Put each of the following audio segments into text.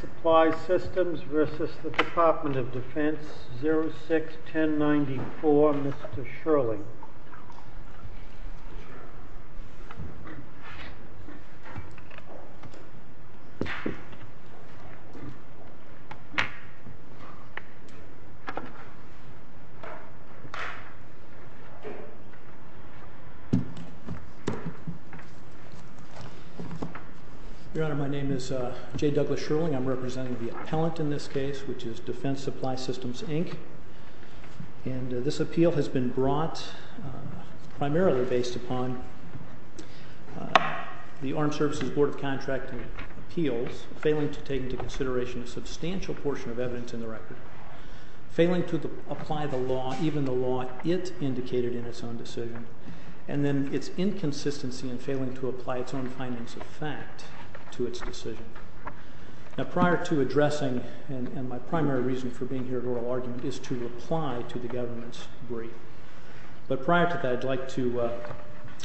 Supply Systems v. Department of Defense 06-1094, Mr. Shirley. Your Honor, my name is J. Douglas Shirling. I'm representing the appellant in this case, which is Defense Supply Systems, Inc. And this appeal has been brought primarily based upon the Armed Services Board of Contracting appeals failing to take into consideration a substantial portion of evidence in the record, failing to apply the law, even the law it indicated in its own decision, and then its inconsistency in failing to apply its own findings of fact to its decision. Now, prior to addressing, and my primary reason for being here at oral argument is to reply to the government's brief. But prior to that, I'd like to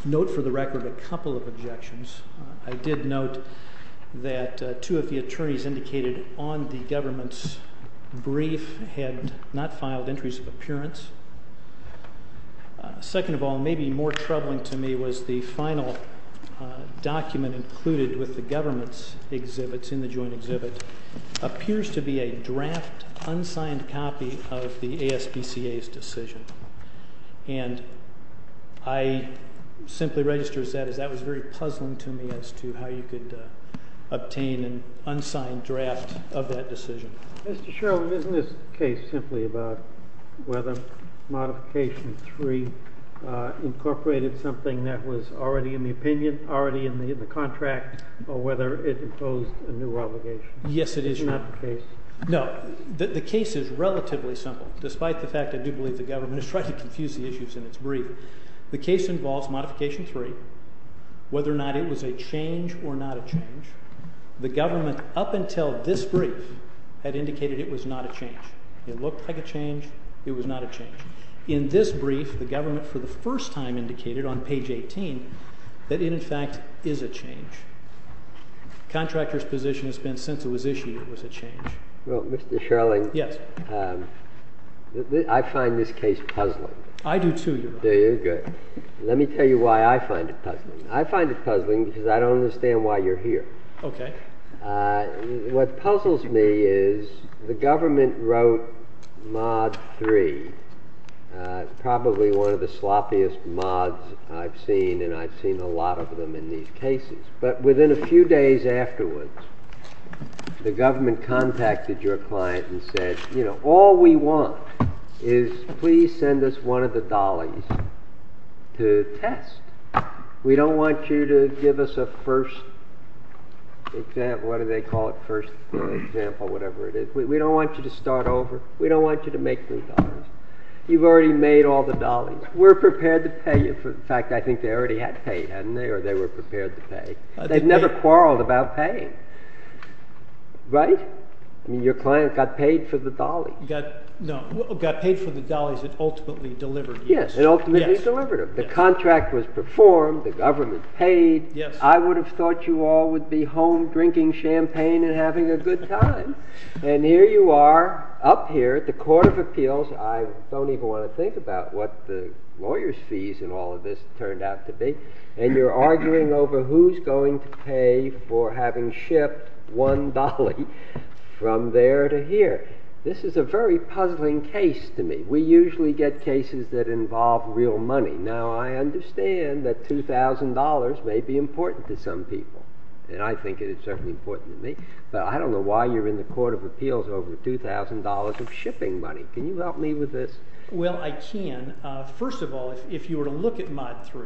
note for the record a couple of objections. I did note that two of the attorneys indicated on the government's brief had not filed entries of appearance. Second of all, maybe more troubling to me was the final document included with the government's exhibits in the joint exhibit appears to be a draft, unsigned copy of the ASPCA's decision. And I simply register that as that was very puzzling to me as to how you could obtain an unsigned draft of that decision. Mr. Sherwood, isn't this case simply about whether Modification 3 incorporated something that was already in the opinion, already in the contract, or whether it imposed a new obligation? Yes, it is. It's not the case? No. The case is relatively simple, despite the fact I do believe the government has tried to confuse the issues in its brief. The case involves Modification 3, whether or not it was a change or not a change. The government, up until this brief, had indicated it was not a change. It looked like a change. It was not a change. In this brief, the government for the first time indicated on page 18 that it, in fact, is a change. The contractor's position has been since it was issued, it was a change. Well, Mr. Sherling, I find this case puzzling. I do, too, Your Honor. Very good. Let me tell you why I find it puzzling. I find it puzzling because I don't understand why you're here. Okay. What puzzles me is the government wrote Mod 3, probably one of the sloppiest mods I've seen, and I've seen a lot of them in these cases. But within a few days afterwards, the government contacted your client and said, you know, all we want is please send us one of the dollies to test. We don't want you to give us a first example, whatever they call it, first example, whatever it is. We don't want you to start over. We don't want you to make new dollies. You've already made all the dollies. We're prepared to pay you for the fact that I think they already had paid, hadn't they, or they were prepared to pay? They've never quarreled about paying, right? I mean, your client got paid for the dolly. No, got paid for the dollies it ultimately delivered, yes. Yes, it ultimately delivered them. The contract was performed. The government paid. Yes. I would have thought you all would be home drinking champagne and having a good time. And here you are up here at the Court of Appeals. I don't even want to think about what the lawyer's fees in all of this turned out to be. And you're arguing over who's going to pay for having shipped one dolly from there to here. This is a very puzzling case to me. We usually get cases that involve real money. Now, I understand that $2,000 may be important to some people. And I think it is certainly important to me. But I don't know why you're in the Court of Appeals over $2,000 of shipping money. Can you help me with this? Well, I can. First of all, if you were to look at Mod 3,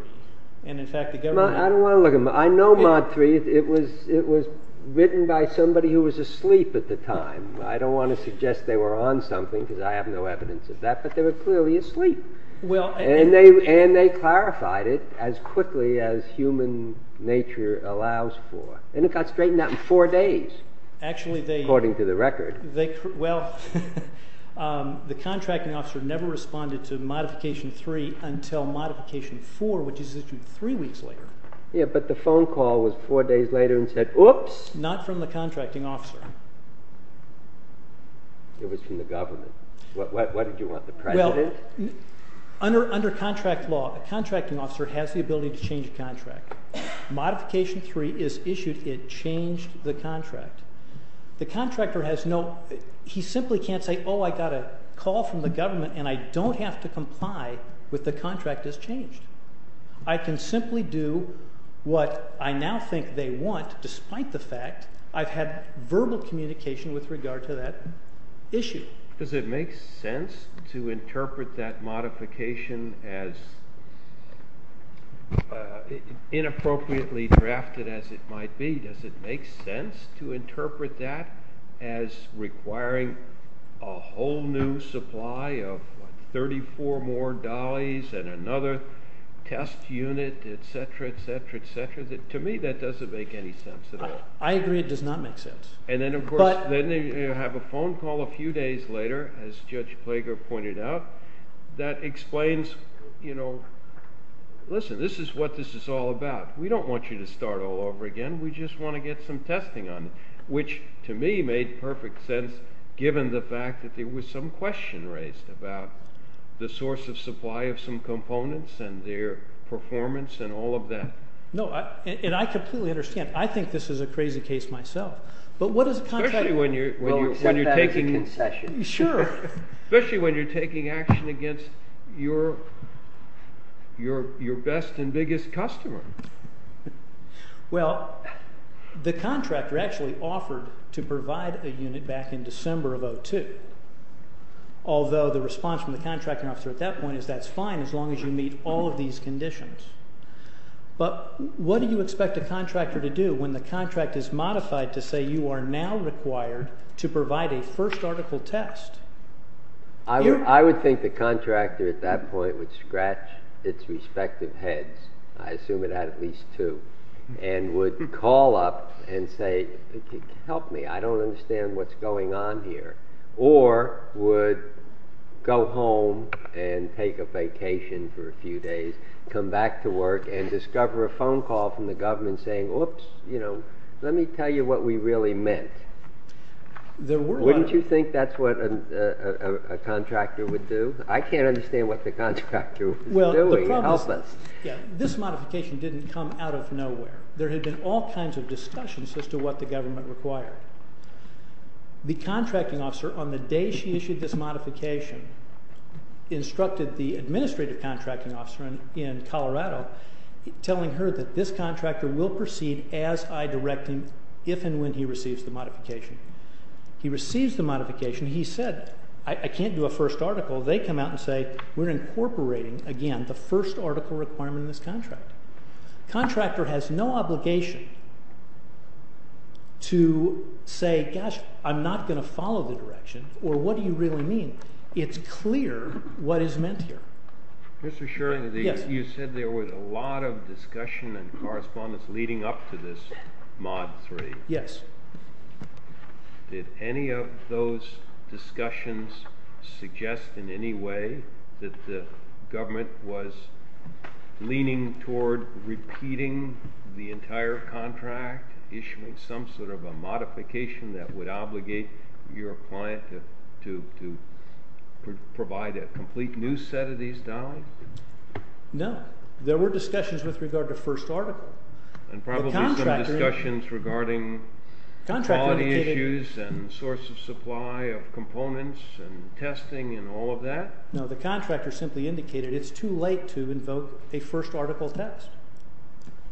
and in fact the government… I don't want to look at Mod 3. I know Mod 3. It was written by somebody who was asleep at the time. I don't want to suggest they were on something because I have no evidence of that. But they were clearly asleep. And they clarified it as quickly as human nature allows for. And it got straightened out in four days, according to the record. Well, the contracting officer never responded to Modification 3 until Modification 4, which is issued three weeks later. Yeah, but the phone call was four days later and said, oops! Not from the contracting officer. It was from the government. Why did you want the president? Under contract law, the contracting officer has the ability to change a contract. Modification 3 is issued. It changed the contract. The contractor has no… He simply can't say, oh, I got a call from the government and I don't have to comply with the contract that's changed. I can simply do what I now think they want, despite the fact I've had verbal communication with regard to that issue. Does it make sense to interpret that modification as inappropriately drafted as it might be? Does it make sense to interpret that as requiring a whole new supply of 34 more dollies and another test unit, et cetera, et cetera, et cetera? To me, that doesn't make any sense at all. I agree it does not make sense. And then, of course, then you have a phone call a few days later, as Judge Plager pointed out, that explains, you know, listen, this is what this is all about. We don't want you to start all over again. We just want to get some testing on you, which to me made perfect sense given the fact that there was some question raised about the source of supply of some components and their performance and all of that. No, and I completely understand. I think this is a crazy case myself. But what does a contractor- Especially when you're taking- Well, except that was a concession. Sure. Especially when you're taking action against your best and biggest customer. Well, the contractor actually offered to provide a unit back in December of 2002, although the response from the contracting officer at that point is that's fine as long as you meet all of these conditions. But what do you expect a contractor to do when the contract is modified to say you are now required to provide a first article test? I would think the contractor at that point would scratch its respective heads. I assume it had at least two. And would call up and say, help me, I don't understand what's going on here. Or would go home and take a vacation for a few days, come back to work, and discover a phone call from the government saying, whoops, let me tell you what we really meant. Wouldn't you think that's what a contractor would do? I can't understand what the contractor was doing. Help us. This modification didn't come out of nowhere. There had been all kinds of discussions as to what the government required. The contracting officer, on the day she issued this modification, instructed the administrative contracting officer in Colorado, telling her that this contractor will proceed as I direct him if and when he receives the modification. He receives the modification. He said, I can't do a first article. They come out and say, we're incorporating, again, the first article requirement in this contract. Contractor has no obligation to say, gosh, I'm not going to follow the direction, or what do you really mean? It's clear what is meant here. Mr. Shuren, you said there was a lot of discussion and correspondence leading up to this mod 3. Yes. Did any of those discussions suggest in any way that the government was leaning towards repeating the entire contract, issuing some sort of a modification that would obligate your client to provide a complete new set of these, Donnelly? No. There were discussions with regard to first article. And probably some discussions regarding quality issues and source of supply of components and testing and all of that? No. The contractor simply indicated it's too late to invoke a first article test.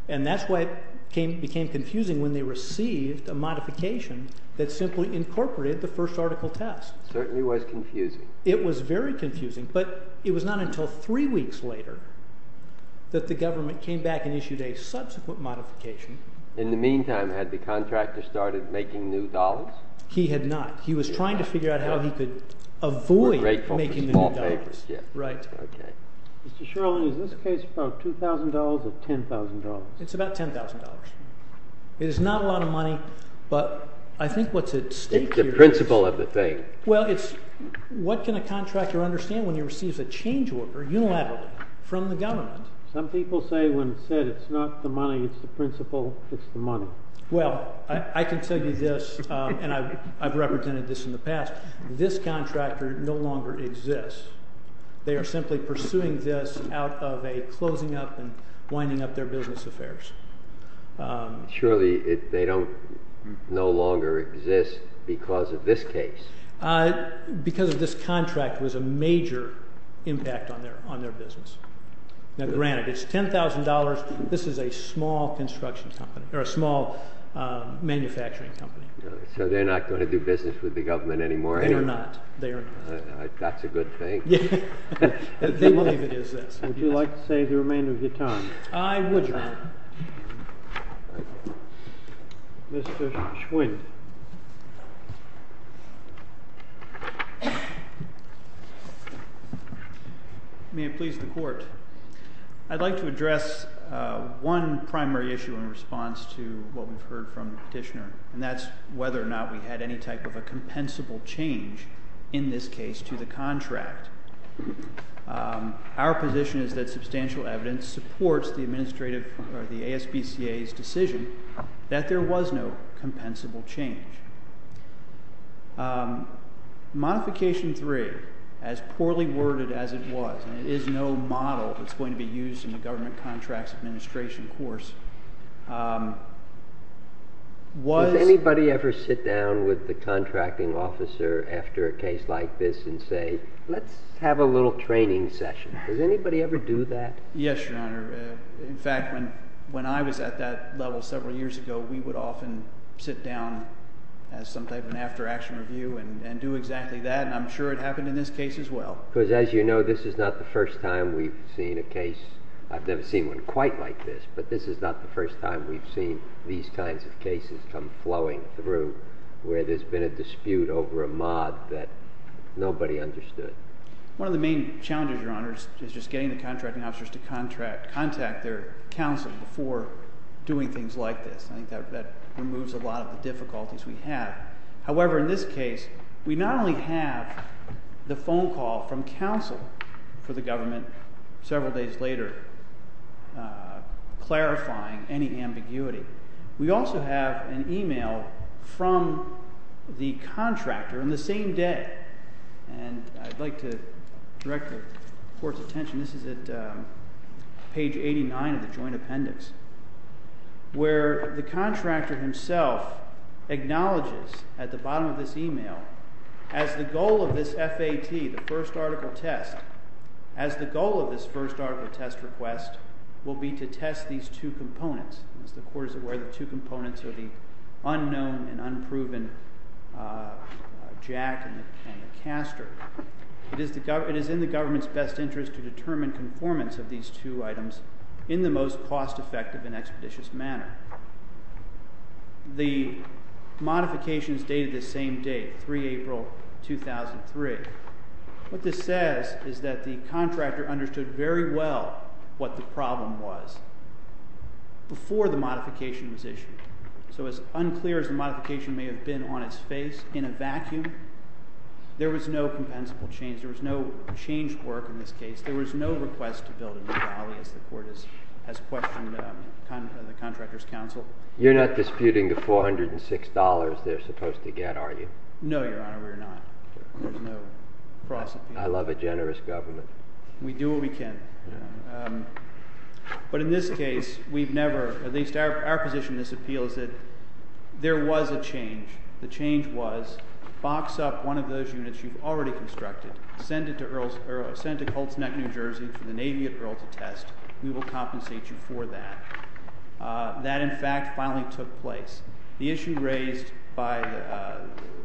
And that's why it became confusing when they received a modification that simply incorporated the first article test. It certainly was confusing. It was very confusing. But it was not until three weeks later that the government came back and issued a subsequent modification. In the meantime, had the contractor started making new dollars? He had not. He was trying to figure out how he could avoid making the new dollars. Right. OK. Mr. Shirling, is this case about $2,000 or $10,000? It's about $10,000. It is not a lot of money. But I think what's at stake here is- It's the principle of the thing. Well, it's what can a contractor understand when he receives a change order unilaterally from the government? Some people say when it's said it's not the money, it's the principle, it's the money. Well, I can tell you this. And I've represented this in the past. This contractor no longer exists. They are simply pursuing this out of a closing up and winding up their business affairs. Surely they no longer exist because of this case. Because of this contract was a major impact on their business. Now, granted, it's $10,000. This is a small manufacturing company. So they're not going to do business with the government anymore, are they? They are not. That's a good thing. They believe it is this. Would you like to save the remainder of your time? I would, Your Honor. Mr. Schwinn. May it please the Court. I'd like to address one primary issue in response to what we've heard from the petitioner. And that's whether or not we had any type of a compensable change in this case to the contract. Our position is that substantial evidence supports the administrative or the ASBCA's decision that there was no compensable change. Modification 3, as poorly worded as it was, and it is no model that's going to be used in the government contracts administration course, was... Does anybody ever sit down with the contracting officer after a case like this and say, let's have a little training session? Does anybody ever do that? Yes, Your Honor. In fact, when I was at that level several years ago, we would often sit down as some type of an after-action review and do exactly that. And I'm sure it happened in this case as well. I've never seen one quite like this. But this is not the first time we've seen these kinds of cases come flowing through where there's been a dispute over a mod that nobody understood. One of the main challenges, Your Honor, is just getting the contracting officers to contact their counsel before doing things like this. I think that removes a lot of the difficulties we have. However, in this case, we not only have the phone call from counsel for the government several days later clarifying any ambiguity. We also have an e-mail from the contractor on the same day. And I'd like to direct the Court's attention. This is at page 89 of the joint appendix, where the contractor himself acknowledges at the bottom of this e-mail, as the goal of this FAT, the first article test, as the goal of this first article test request will be to test these two components. As the Court is aware, the two components are the unknown and unproven jack and the caster. It is in the government's best interest to determine conformance of these two items in the most cost-effective and expeditious manner. The modifications dated the same date, 3 April 2003. What this says is that the contractor understood very well what the problem was before the modification was issued. So as unclear as the modification may have been on its face, in a vacuum, there was no compensable change. There was no change work in this case. There was no request to build a new valley, as the Court has questioned the contractor's counsel. You're not disputing the $406 they're supposed to get, are you? No, Your Honor, we're not. There's no process. I love a generous government. We do what we can. But in this case, we've never, at least our position in this appeal, is that there was a change. The change was box up one of those units you've already constructed, send it to Colts Neck, New Jersey, for the Navy at Earl to test. We will compensate you for that. That, in fact, finally took place. The issue raised by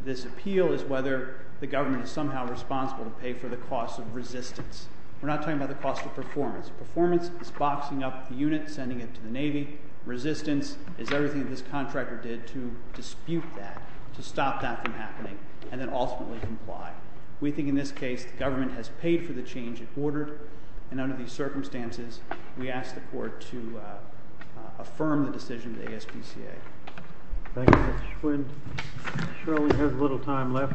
this appeal is whether the government is somehow responsible to pay for the cost of resistance. We're not talking about the cost of performance. Performance is boxing up the unit, sending it to the Navy. Resistance is everything that this contractor did to dispute that, to stop that from happening, and then ultimately comply. We think in this case the government has paid for the change it ordered, and under these circumstances we ask the Court to affirm the decision of the ASPCA. Thank you, Mr. Schwinn. Shirley has a little time left.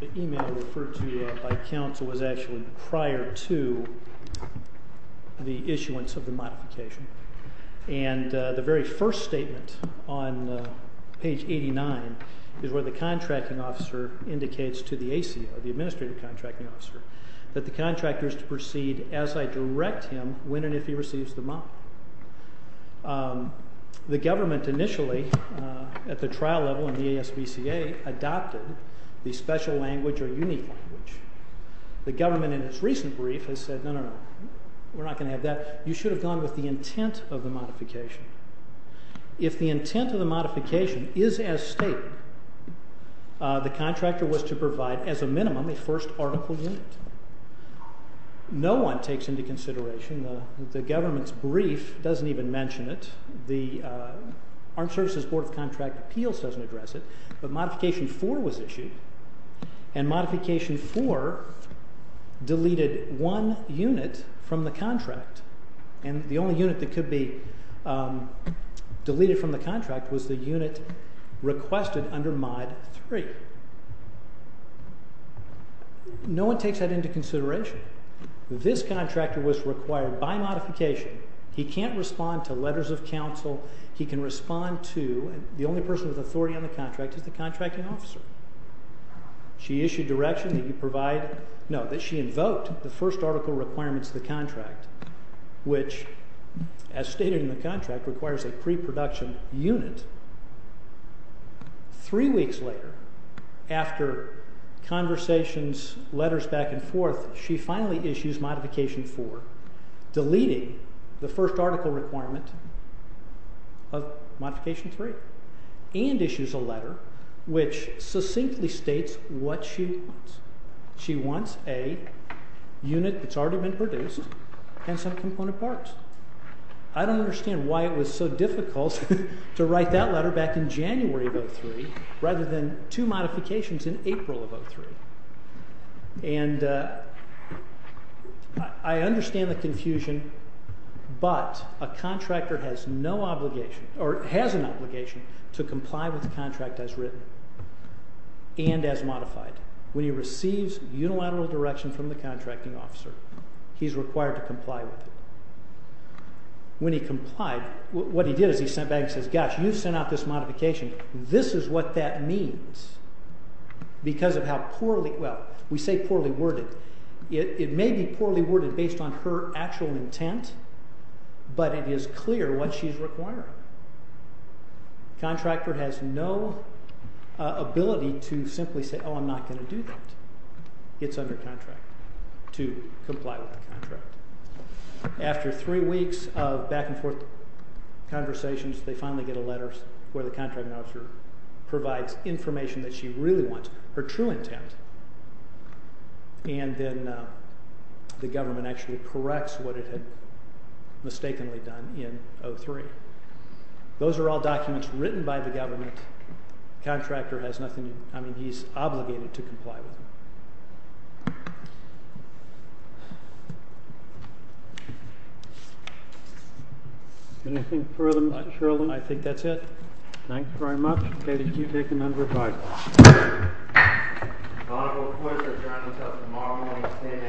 The email referred to by counsel was actually prior to the issuance of the modification, and the very first statement on page 89 is where the contracting officer indicates to the ACO, the administrative contracting officer, that the contractor is to proceed as I direct him when and if he receives the model. The government initially, at the trial level in the ASPCA, adopted the special language or unique language. The government in its recent brief has said, no, no, no, we're not going to have that. You should have gone with the intent of the modification. If the intent of the modification is as stated, the contractor was to provide, as a minimum, a first article unit. No one takes into consideration, the government's brief doesn't even mention it, the Armed Services Board of Contract Appeals doesn't address it, but modification 4 was issued, and modification 4 deleted one unit from the contract, and the only unit that could be deleted from the contract was the unit requested under mod 3. No one takes that into consideration. This contractor was required by modification. He can't respond to letters of counsel. He can respond to, and the only person with authority on the contract is the contracting officer. She issued direction that you provide, no, that she invoked the first article requirements of the contract, which, as stated in the contract, requires a pre-production unit. Three weeks later, after conversations, letters back and forth, she finally issues modification 4, deleting the first article requirement of modification 3, and issues a letter which succinctly states what she wants. She wants a unit that's already been produced and some component parts. I don't understand why it was so difficult to write that letter back in January of 03, rather than two modifications in April of 03. And I understand the confusion, but a contractor has no obligation, or has an obligation, to comply with the contract as written and as modified. When he receives unilateral direction from the contracting officer, he's required to comply with it. When he complied, what he did is he sent back and says, gosh, you sent out this modification. This is what that means because of how poorly, well, we say poorly worded. It may be poorly worded based on her actual intent, but it is clear what she's requiring. Contractor has no ability to simply say, oh, I'm not going to do that. It's under contract to comply with the contract. After three weeks of back and forth conversations, they finally get a letter where the contracting officer provides information that she really wants, her true intent. And then the government actually corrects what it had mistakenly done in 03. Those are all documents written by the government. Contractor has nothing to, I mean, he's obligated to comply with them. Anything further, Mr. Sheridan? I think that's it. Thanks very much. Okay, did you take a number of items? The Honorable Clinton Sheridan comes tomorrow morning at 10 a.m.